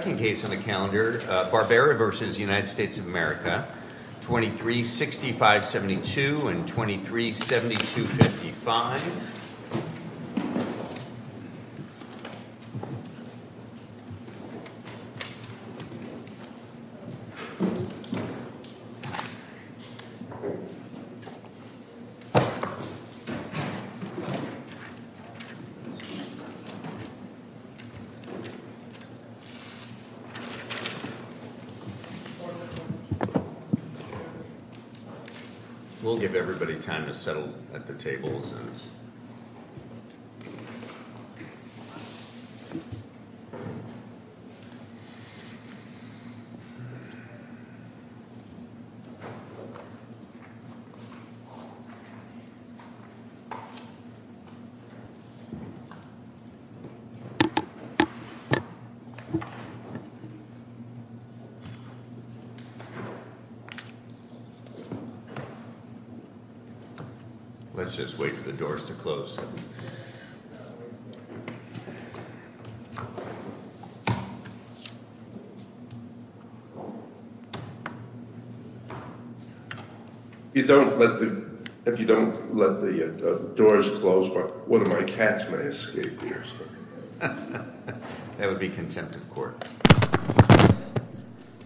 Second case on the calendar, Barbera v. United States of America, 2365-72 and 2372-55. We'll give everybody time to settle at the table. Let's just wait for the doors to close. If you don't let the doors close, one of my cats may escape. That would be contempt of court.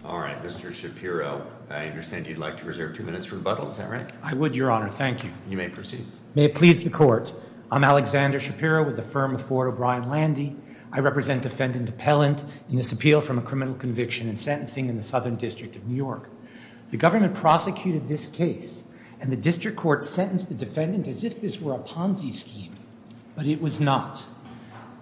All right, Mr. Shapiro, I understand you'd like to reserve two minutes for rebuttal. Is that right? I would, Your Honor. Thank you. You may proceed. May it please the Court. I'm Alexander Shapiro with the firm of Ford O'Brien Landy. I represent Defendant Appellant in this appeal from a criminal conviction and sentencing in the Southern District of New York. The government prosecuted this case, and the district court sentenced the defendant as if this were a Ponzi scheme, but it was not.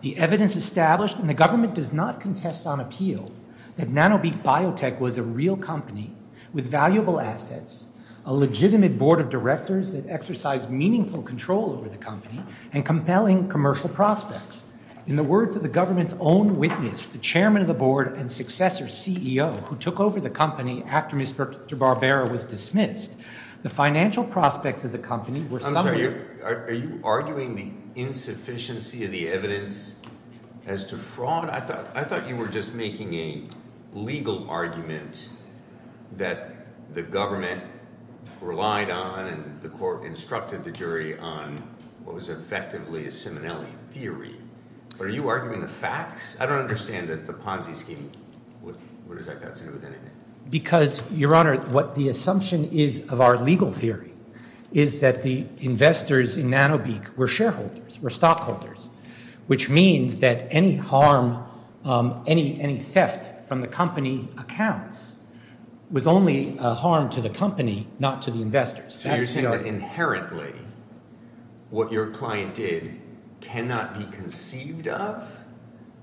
The evidence established, and the government does not contest on appeal, that NanoBeak Biotech was a real company with valuable assets, a legitimate board of directors that exercised meaningful control over the company, and compelling commercial prospects. In the words of the government's own witness, the chairman of the board and successor CEO who took over the company after Mr. Barbera was dismissed, the financial prospects of the company were somewhat— I'm sorry, are you arguing the insufficiency of the evidence as to fraud? Your Honor, I thought you were just making a legal argument that the government relied on, and the court instructed the jury on what was effectively a Simonelli theory, but are you arguing the facts? I don't understand that the Ponzi scheme—what does that have to do with anything? Because, Your Honor, what the assumption is of our legal theory is that the investors in NanoBeak were shareholders, were stockholders, which means that any harm, any theft from the company accounts was only a harm to the company, not to the investors. So you're saying that inherently what your client did cannot be conceived of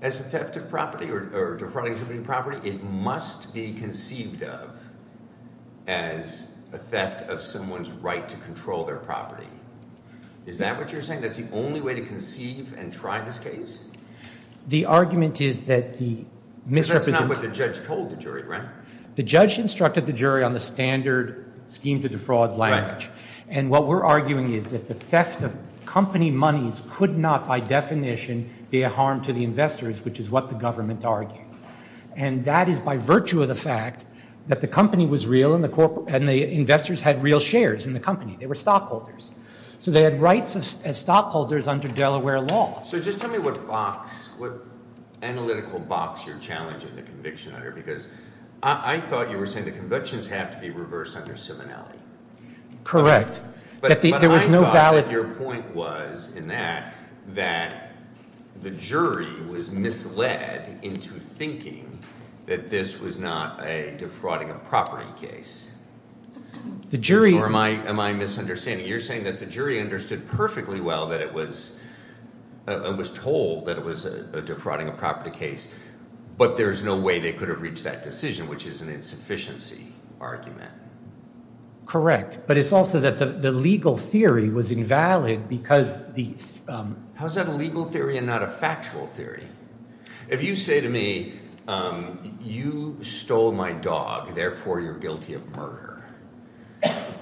as a theft of property or defrauding somebody of property? It must be conceived of as a theft of someone's right to control their property. Is that what you're saying? That's the only way to conceive and try this case? The argument is that the misrepresentation— Because that's not what the judge told the jury, right? The judge instructed the jury on the standard scheme to defraud language, and what we're arguing is that the theft of company monies could not by definition be a harm to the investors, which is what the government argued, and that is by virtue of the fact that the company was real and the investors had real shares in the company. They were stockholders. So they had rights as stockholders under Delaware law. So just tell me what analytical box you're challenging the conviction under, because I thought you were saying the convictions have to be reversed under similarity. Correct. But I thought that your point was in that that the jury was misled into thinking that this was not a defrauding of property case. The jury— Or am I misunderstanding? You're saying that the jury understood perfectly well that it was told that it was a defrauding of property case, but there's no way they could have reached that decision, which is an insufficiency argument. Correct, but it's also that the legal theory was invalid because the— How is that a legal theory and not a factual theory? If you say to me, you stole my dog, therefore you're guilty of murder,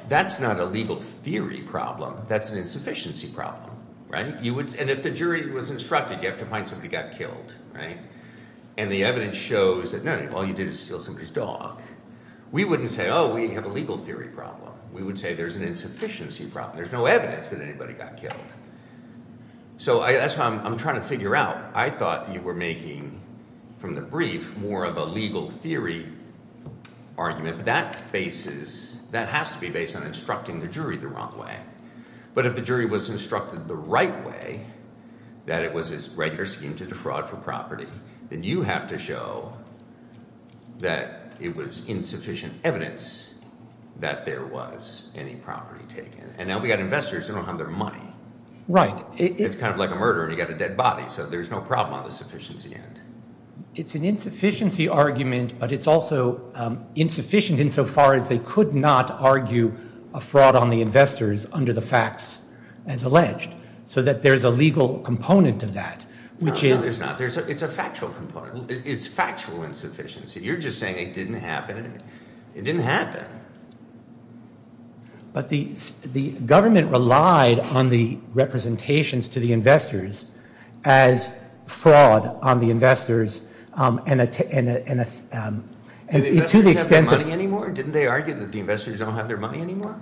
that's not a legal theory problem. That's an insufficiency problem, right? And if the jury was instructed, you have to find somebody who got killed, right? And the evidence shows that no, all you did is steal somebody's dog. We wouldn't say, oh, we have a legal theory problem. We would say there's an insufficiency problem. There's no evidence that anybody got killed. So that's why I'm trying to figure out. I thought you were making, from the brief, more of a legal theory argument. But that bases—that has to be based on instructing the jury the wrong way. But if the jury was instructed the right way, that it was a regular scheme to defraud for property, then you have to show that it was insufficient evidence that there was any property taken. And now we've got investors who don't have their money. Right. It's kind of like a murder, and you've got a dead body. So there's no problem on the sufficiency end. It's an insufficiency argument, but it's also insufficient insofar as they could not argue a fraud on the investors under the facts as alleged, so that there's a legal component of that, which is— No, there's not. It's a factual component. It's factual insufficiency. You're just saying it didn't happen. It didn't happen. But the government relied on the representations to the investors as fraud on the investors and to the extent that— Did the investors have their money anymore? Didn't they argue that the investors don't have their money anymore?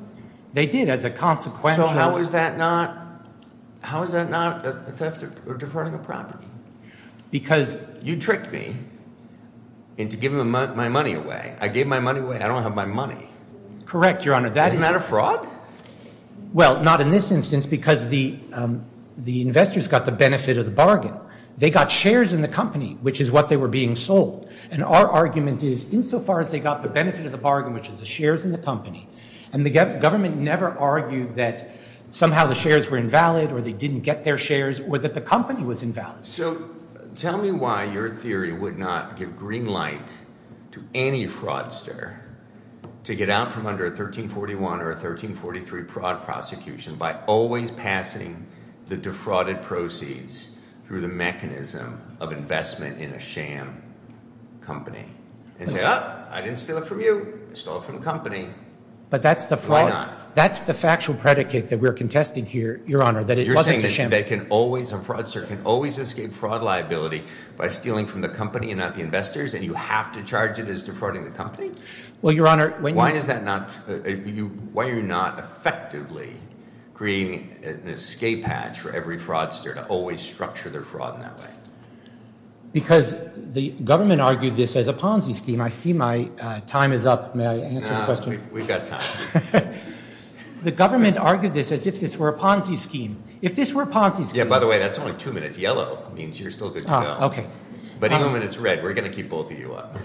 They did as a consequential— So how is that not a theft or defrauding of property? Because— Correct, Your Honor. Isn't that a fraud? Well, not in this instance because the investors got the benefit of the bargain. They got shares in the company, which is what they were being sold. And our argument is insofar as they got the benefit of the bargain, which is the shares in the company, and the government never argued that somehow the shares were invalid or they didn't get their shares or that the company was invalid. So tell me why your theory would not give green light to any fraudster to get out from under a 1341 or a 1343 fraud prosecution by always passing the defrauded proceeds through the mechanism of investment in a sham company and say, oh, I didn't steal it from you. I stole it from the company. But that's the— Why not? That's the factual predicate that we're contesting here, Your Honor, that it wasn't a sham— A fraudster can always escape fraud liability by stealing from the company and not the investors, and you have to charge it as defrauding the company? Well, Your Honor, when you— Why is that not—why are you not effectively creating an escape hatch for every fraudster to always structure their fraud in that way? Because the government argued this as a Ponzi scheme. I see my time is up. May I answer the question? No, we've got time. The government argued this as if this were a Ponzi scheme. If this were a Ponzi scheme— Yeah, by the way, that's only two minutes. Yellow means you're still good to go. Okay. But even when it's red, we're going to keep both of you up.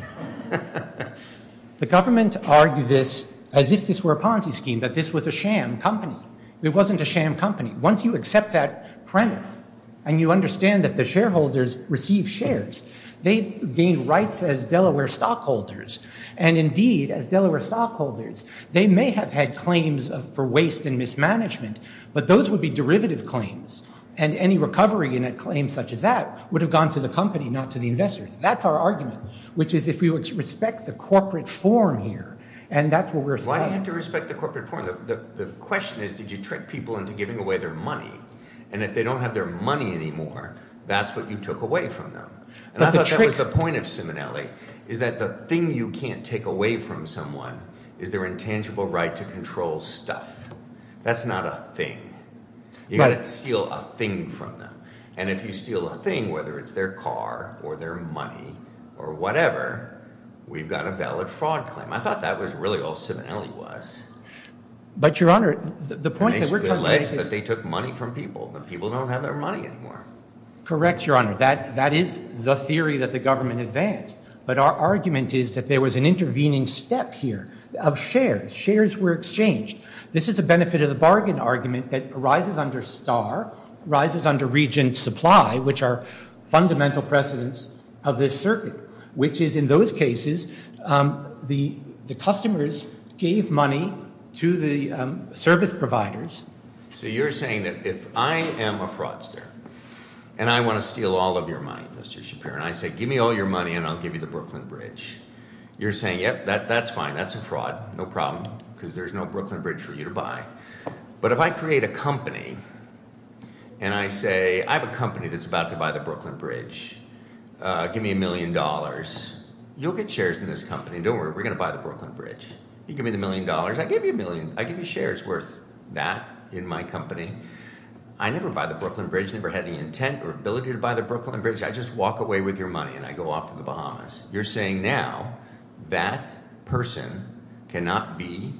The government argued this as if this were a Ponzi scheme, that this was a sham company. It wasn't a sham company. Once you accept that premise and you understand that the shareholders receive shares, they gain rights as Delaware stockholders, and indeed, as Delaware stockholders, they may have had claims for waste and mismanagement, but those would be derivative claims, and any recovery in a claim such as that would have gone to the company, not to the investors. That's our argument, which is if we respect the corporate form here, and that's what we're— Why do you have to respect the corporate form? The question is did you trick people into giving away their money, and if they don't have their money anymore, that's what you took away from them? And I thought that was the point of Simonelli, is that the thing you can't take away from someone is their intangible right to control stuff. That's not a thing. You've got to steal a thing from them, and if you steal a thing, whether it's their car or their money or whatever, we've got a valid fraud claim. I thought that was really all Simonelli was. But, Your Honor, the point that we're trying to make is— And they split legs that they took money from people. The people don't have their money anymore. Correct, Your Honor. That is the theory that the government advanced, but our argument is that there was an intervening step here of shares. Shares were exchanged. This is a benefit of the bargain argument that arises under STAR, arises under region supply, which are fundamental precedents of this circuit, which is in those cases the customers gave money to the service providers. So you're saying that if I am a fraudster and I want to steal all of your money, Mr. Shapiro, and I say, give me all your money and I'll give you the Brooklyn Bridge, you're saying, yep, that's fine, that's a fraud, no problem, because there's no Brooklyn Bridge for you to buy. But if I create a company and I say, I have a company that's about to buy the Brooklyn Bridge, give me a million dollars, you'll get shares in this company. Don't worry, we're going to buy the Brooklyn Bridge. You give me the million dollars, I give you shares worth that in my company. I never buy the Brooklyn Bridge, never had any intent or ability to buy the Brooklyn Bridge. I just walk away with your money and I go off to the Bahamas. You're saying now that person cannot be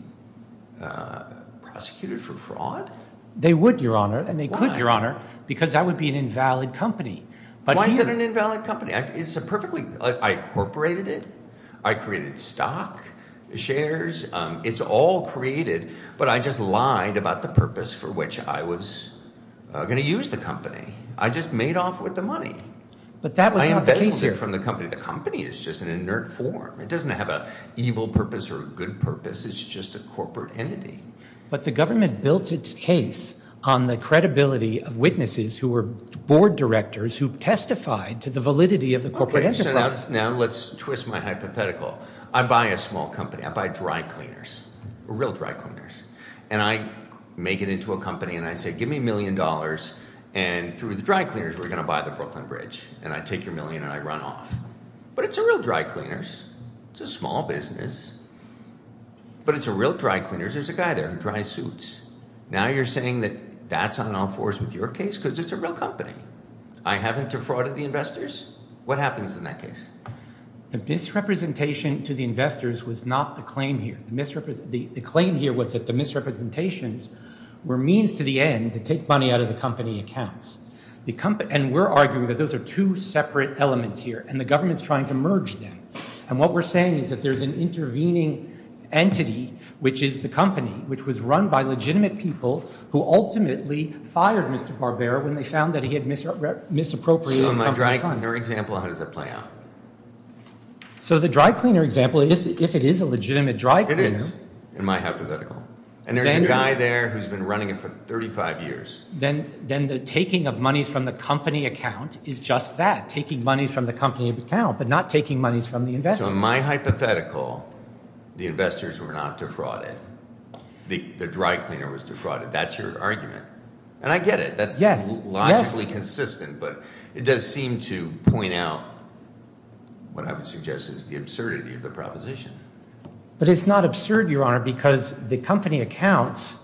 prosecuted for fraud? They would, Your Honor, and they could, Your Honor, because that would be an invalid company. Why is it an invalid company? I incorporated it, I created stock, shares, it's all created, but I just lied about the purpose for which I was going to use the company. I just made off with the money. I embezzled it from the company. The company is just an inert form. It doesn't have an evil purpose or a good purpose. It's just a corporate entity. But the government built its case on the credibility of witnesses who were board directors who testified to the validity of the corporate enterprise. Okay, so now let's twist my hypothetical. I buy a small company, I buy dry cleaners, real dry cleaners, and I make it into a company and I say give me a million dollars, and through the dry cleaners we're going to buy the Brooklyn Bridge, and I take your million and I run off. But it's a real dry cleaners. It's a small business, but it's a real dry cleaners. There's a guy there in dry suits. Now you're saying that that's on all fours with your case because it's a real company. I haven't defrauded the investors. What happens in that case? The misrepresentation to the investors was not the claim here. The claim here was that the misrepresentations were means to the end to take money out of the company accounts. And we're arguing that those are two separate elements here, and the government's trying to merge them. And what we're saying is that there's an intervening entity, which is the company, which was run by legitimate people who ultimately fired Mr. Barbera when they found that he had misappropriated company funds. So in my dry cleaner example, how does that play out? So the dry cleaner example, if it is a legitimate dry cleaner. It is, in my hypothetical. And there's a guy there who's been running it for 35 years. Then the taking of monies from the company account is just that, taking monies from the company account but not taking monies from the investors. So in my hypothetical, the investors were not defrauded. The dry cleaner was defrauded. That's your argument. And I get it. That's logically consistent. But it does seem to point out what I would suggest is the absurdity of the proposition. But it's not absurd, Your Honor, because the company accounts,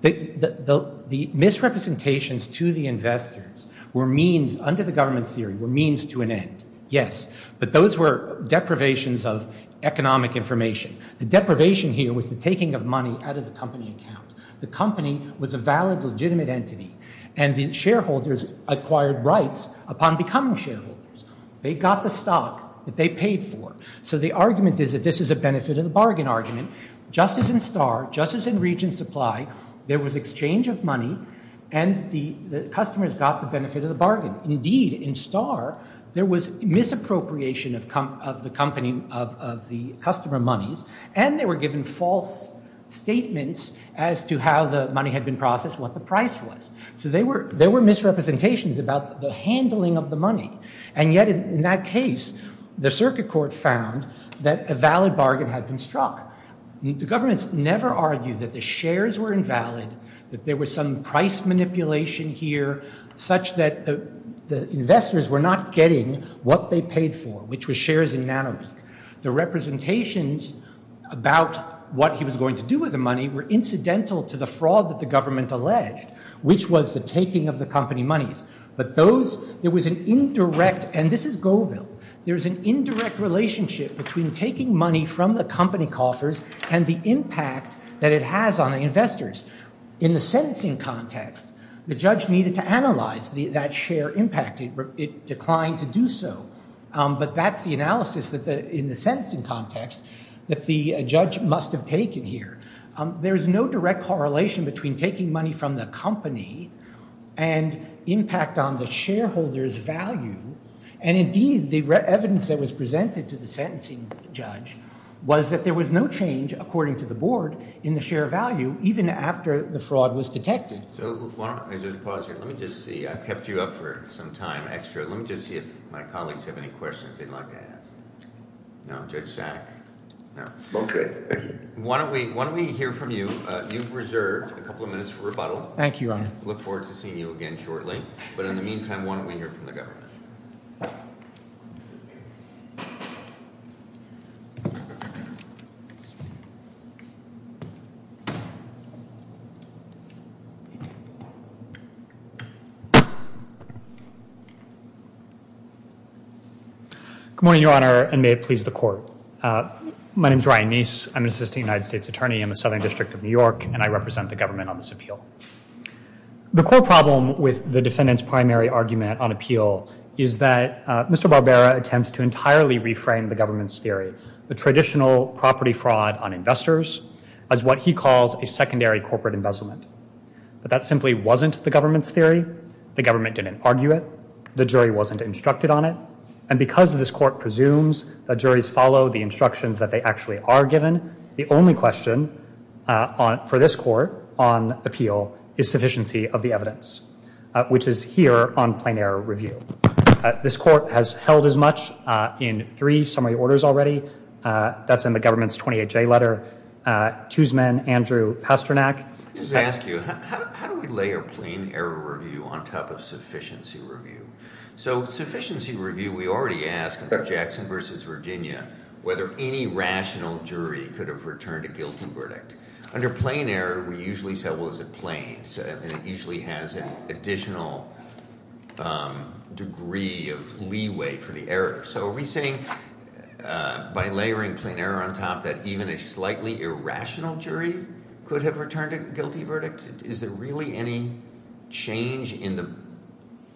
the misrepresentations to the investors were means, under the government's theory, were means to an end, yes. But those were deprivations of economic information. The deprivation here was the taking of money out of the company account. The company was a valid, legitimate entity. And the shareholders acquired rights upon becoming shareholders. They got the stock that they paid for. So the argument is that this is a benefit of the bargain argument. Just as in Starr, just as in region supply, there was exchange of money, and the customers got the benefit of the bargain. Indeed, in Starr, there was misappropriation of the company, of the customer monies, and they were given false statements as to how the money had been processed, what the price was. So there were misrepresentations about the handling of the money. And yet, in that case, the circuit court found that a valid bargain had been struck. The government's never argued that the shares were invalid, that there was some price manipulation here, such that the investors were not getting what they paid for, which was shares in NanoBig. The representations about what he was going to do with the money were incidental to the fraud that the government alleged, which was the taking of the company monies. But those, there was an indirect, and this is Goville, there was an indirect relationship between taking money from the company coffers and the impact that it has on the investors. In the sentencing context, the judge needed to analyze that share impact. It declined to do so. But that's the analysis in the sentencing context that the judge must have taken here. There is no direct correlation between taking money from the company and impact on the shareholder's value. And indeed, the evidence that was presented to the sentencing judge was that there was no change, according to the board, in the share value, even after the fraud was detected. So why don't I just pause here. Let me just see. I've kept you up for some time extra. Let me just see if my colleagues have any questions they'd like to ask. No? Judge Sack? No. Why don't we hear from you. You've reserved a couple of minutes for rebuttal. Thank you, Your Honor. I look forward to seeing you again shortly. But in the meantime, why don't we hear from the governor? Good morning, Your Honor, and may it please the court. My name's Ryan Neese. I'm an assistant United States attorney in the Southern District of New York, and I represent the government on this appeal. The core problem with the defendant's primary argument on appeal is that Mr. Barbera attempts to entirely reframe the government's theory, the traditional property fraud on investors, as what he calls a secondary corporate embezzlement. But that simply wasn't the government's theory. The government didn't argue it. The jury wasn't instructed on it. And because this court presumes that juries follow the instructions that they actually are given, the only question for this court on appeal is sufficiency of the evidence, which is here on plain error review. This court has held as much in three summary orders already. That's in the government's 28-J letter. Tuzman, Andrew Pasternak. Let me just ask you, how do we layer plain error review on top of sufficiency review? So with sufficiency review, we already asked Jackson v. Virginia whether any rational jury could have returned a guilty verdict. Under plain error, we usually say, well, is it plain? And it usually has an additional degree of leeway for the error. So are we saying by layering plain error on top that even a slightly irrational jury could have returned a guilty verdict? Is there really any change in the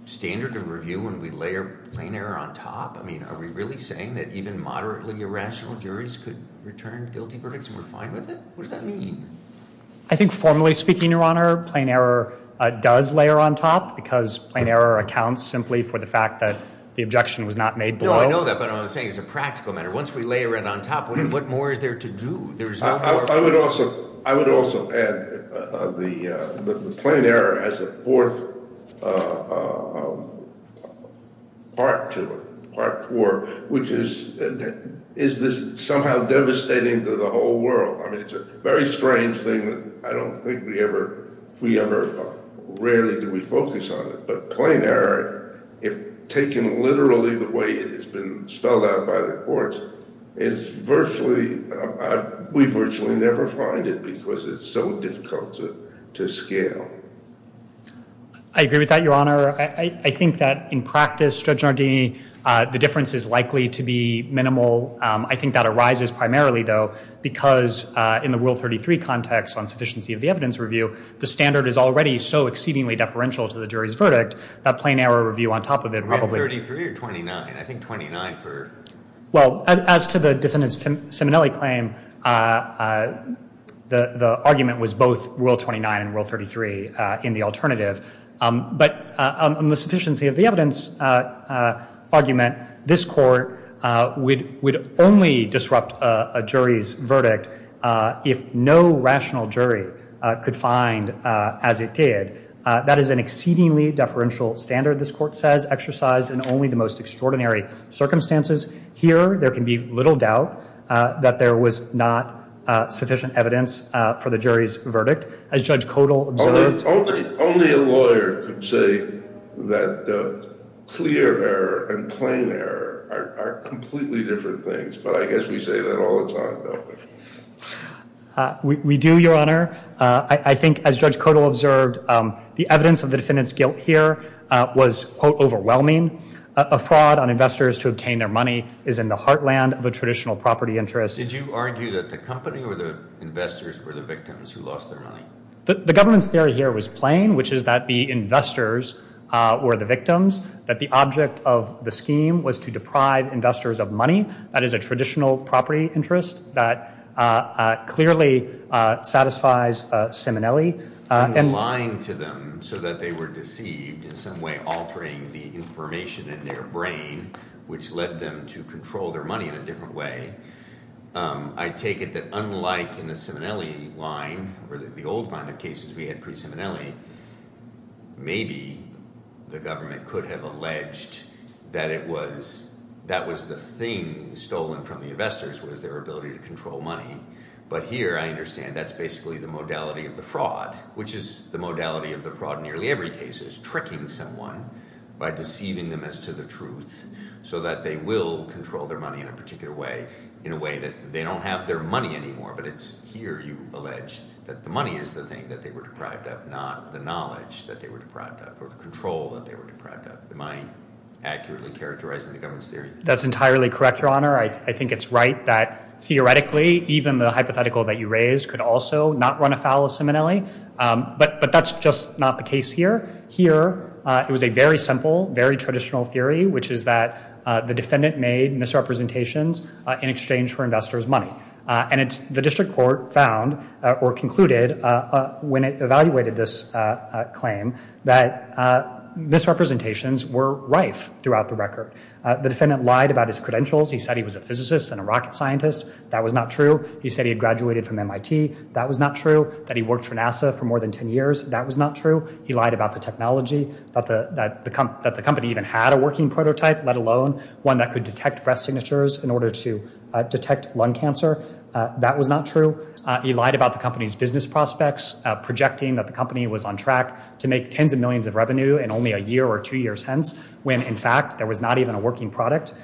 standard of review when we layer plain error on top? I mean, are we really saying that even moderately irrational juries could return guilty verdicts and we're fine with it? What does that mean? I think formally speaking, Your Honor, plain error does layer on top because plain error accounts simply for the fact that the objection was not made below. No, I know that, but what I'm saying is a practical matter. Once we layer it on top, what more is there to do? I would also add the plain error has a fourth part to it, part four, which is is this somehow devastating to the whole world? I mean, it's a very strange thing that I don't think we ever rarely do we focus on it. But plain error, if taken literally the way it has been spelled out by the courts, we virtually never find it because it's so difficult to scale. I agree with that, Your Honor. I think that in practice, Judge Nardini, the difference is likely to be minimal. I think that arises primarily, though, because in the Rule 33 context on sufficiency of the evidence review, the standard is already so exceedingly deferential to the jury's verdict that plain error review on top of it probably- Rule 33 or 29? I think 29 for- Well, as to the defendant's Simonelli claim, the argument was both Rule 29 and Rule 33 in the alternative. But on the sufficiency of the evidence argument, this Court would only disrupt a jury's verdict if no rational jury could find as it did. That is an exceedingly deferential standard, this Court says, exercised in only the most extraordinary circumstances. Here, there can be little doubt that there was not sufficient evidence for the jury's verdict. Only a lawyer could say that clear error and plain error are completely different things. But I guess we say that all the time, don't we? We do, Your Honor. I think, as Judge Codal observed, the evidence of the defendant's guilt here was, quote, overwhelming. A fraud on investors to obtain their money is in the heartland of a traditional property interest. Did you argue that the company or the investors were the victims who lost their money? The government's theory here was plain, which is that the investors were the victims, that the object of the scheme was to deprive investors of money. That is a traditional property interest that clearly satisfies Simonelli. And lying to them so that they were deceived, in some way altering the information in their brain, which led them to control their money in a different way, I take it that unlike in the Simonelli line, or the old line of cases we had pre-Simonelli, maybe the government could have alleged that it was, that was the thing stolen from the investors, was their ability to control money. But here, I understand, that's basically the modality of the fraud, which is the modality of the fraud in nearly every case, which is tricking someone by deceiving them as to the truth, so that they will control their money in a particular way, in a way that they don't have their money anymore, but it's here you allege that the money is the thing that they were deprived of, not the knowledge that they were deprived of, or the control that they were deprived of. Am I accurately characterizing the government's theory? That's entirely correct, Your Honor. I think it's right that theoretically, even the hypothetical that you raised, could also not run afoul of Simonelli, but that's just not the case here. Here, it was a very simple, very traditional theory, which is that the defendant made misrepresentations in exchange for investors' money. And the district court found, or concluded, when it evaluated this claim, that misrepresentations were rife throughout the record. The defendant lied about his credentials. He said he was a physicist and a rocket scientist. That was not true. He said he had graduated from MIT. That was not true. That he worked for NASA for more than 10 years. That was not true. He lied about the technology, that the company even had a working prototype, let alone one that could detect breast signatures in order to detect lung cancer. That was not true. He lied about the company's business prospects, projecting that the company was on track to make tens of millions of revenue in only a year or two years hence, when, in fact, there was not even a working product.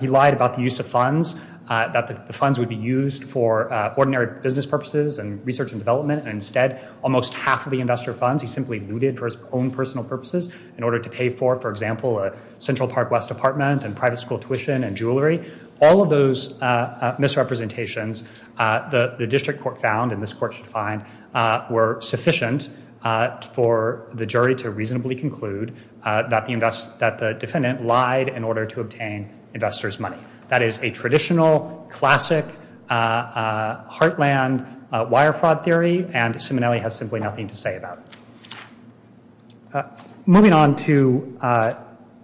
He lied about the use of funds, that the funds would be used for ordinary business purposes and research and development. Instead, almost half of the investor funds he simply looted for his own personal purposes in order to pay for, for example, a Central Park West apartment and private school tuition and jewelry. All of those misrepresentations, the district court found, and this court should find, were sufficient for the jury to reasonably conclude that the defendant lied in order to obtain investors' money. That is a traditional, classic, heartland wire fraud theory, and Simonelli has simply nothing to say about it. Moving on to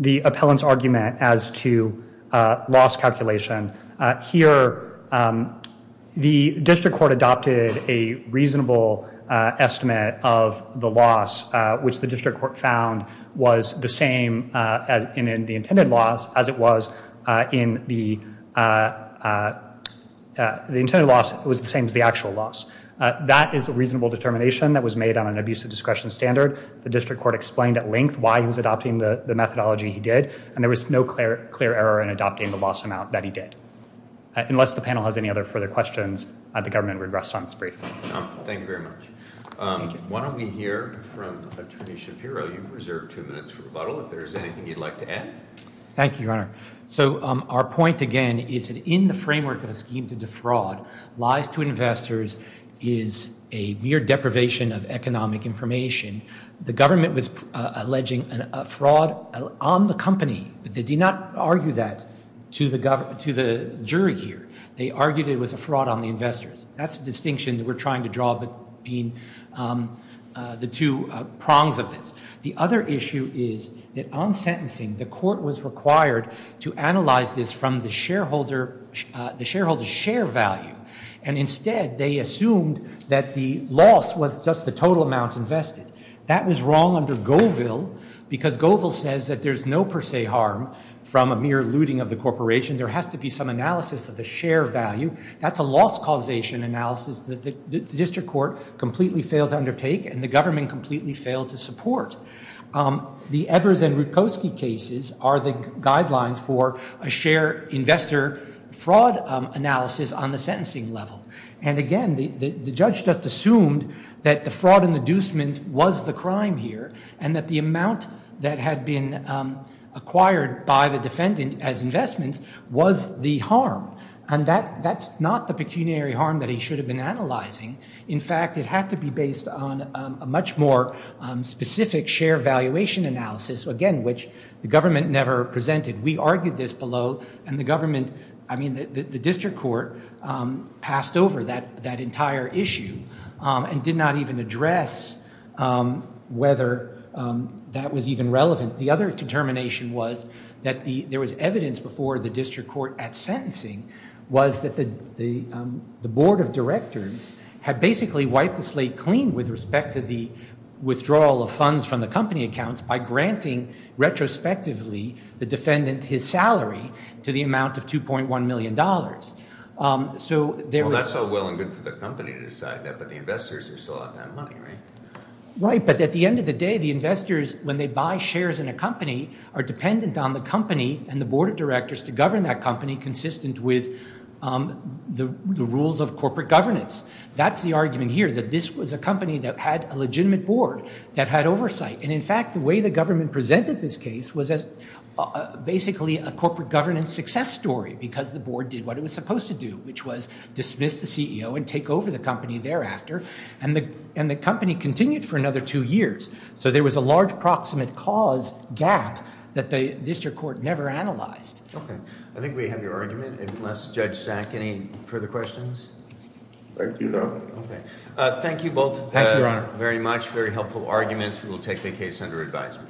the appellant's argument as to loss calculation, here the district court adopted a reasonable estimate of the loss, which the district court found was the same in the intended loss as it was in the, the intended loss was the same as the actual loss. That is a reasonable determination that was made on an abusive discretion standard. The district court explained at length why he was adopting the methodology he did, and there was no clear error in adopting the loss amount that he did. Unless the panel has any other further questions, the government would rest on its brief. Thank you very much. Why don't we hear from Attorney Shapiro. You've reserved two minutes for rebuttal. If there's anything you'd like to add. Thank you, Your Honor. So our point, again, is that in the framework of a scheme to defraud, lies to investors is a mere deprivation of economic information. The government was alleging a fraud on the company, but they did not argue that to the jury here. They argued it was a fraud on the investors. That's the distinction that we're trying to draw between the two prongs of this. The other issue is that on sentencing, the court was required to analyze this from the shareholder's share value, and instead they assumed that the loss was just the total amount invested. That was wrong under Goville, because Goville says that there's no per se harm from a mere looting of the corporation. There has to be some analysis of the share value. That's a loss causation analysis that the district court completely failed to undertake, and the government completely failed to support. The Ebers and Rutkowski cases are the guidelines for a share investor fraud analysis on the sentencing level. And again, the judge just assumed that the fraud and inducement was the crime here, and that the amount that had been acquired by the defendant as investment was the harm. And that's not the pecuniary harm that he should have been analyzing. In fact, it had to be based on a much more specific share valuation analysis, again, which the government never presented. We argued this below, and the district court passed over that entire issue and did not even address whether that was even relevant. The other determination was that there was evidence before the district court at sentencing was that the board of directors had basically wiped the slate clean with respect to the withdrawal of funds from the company accounts by granting, retrospectively, the defendant his salary to the amount of $2.1 million. Well, that's all well and good for the company to decide that, but the investors are still out to have money, right? Right, but at the end of the day, the investors, when they buy shares in a company, are dependent on the company and the board of directors to govern that company consistent with the rules of corporate governance. That's the argument here, that this was a company that had a legitimate board, that had oversight. And in fact, the way the government presented this case was basically a corporate governance success story because the board did what it was supposed to do, which was dismiss the CEO and take over the company thereafter. And the company continued for another two years. So there was a large proximate cause gap that the district court never analyzed. Okay. I think we have your argument, unless, Judge Sack, any further questions? Thank you, Your Honor. Okay. Thank you both very much. Very helpful arguments. We will take the case under advisement.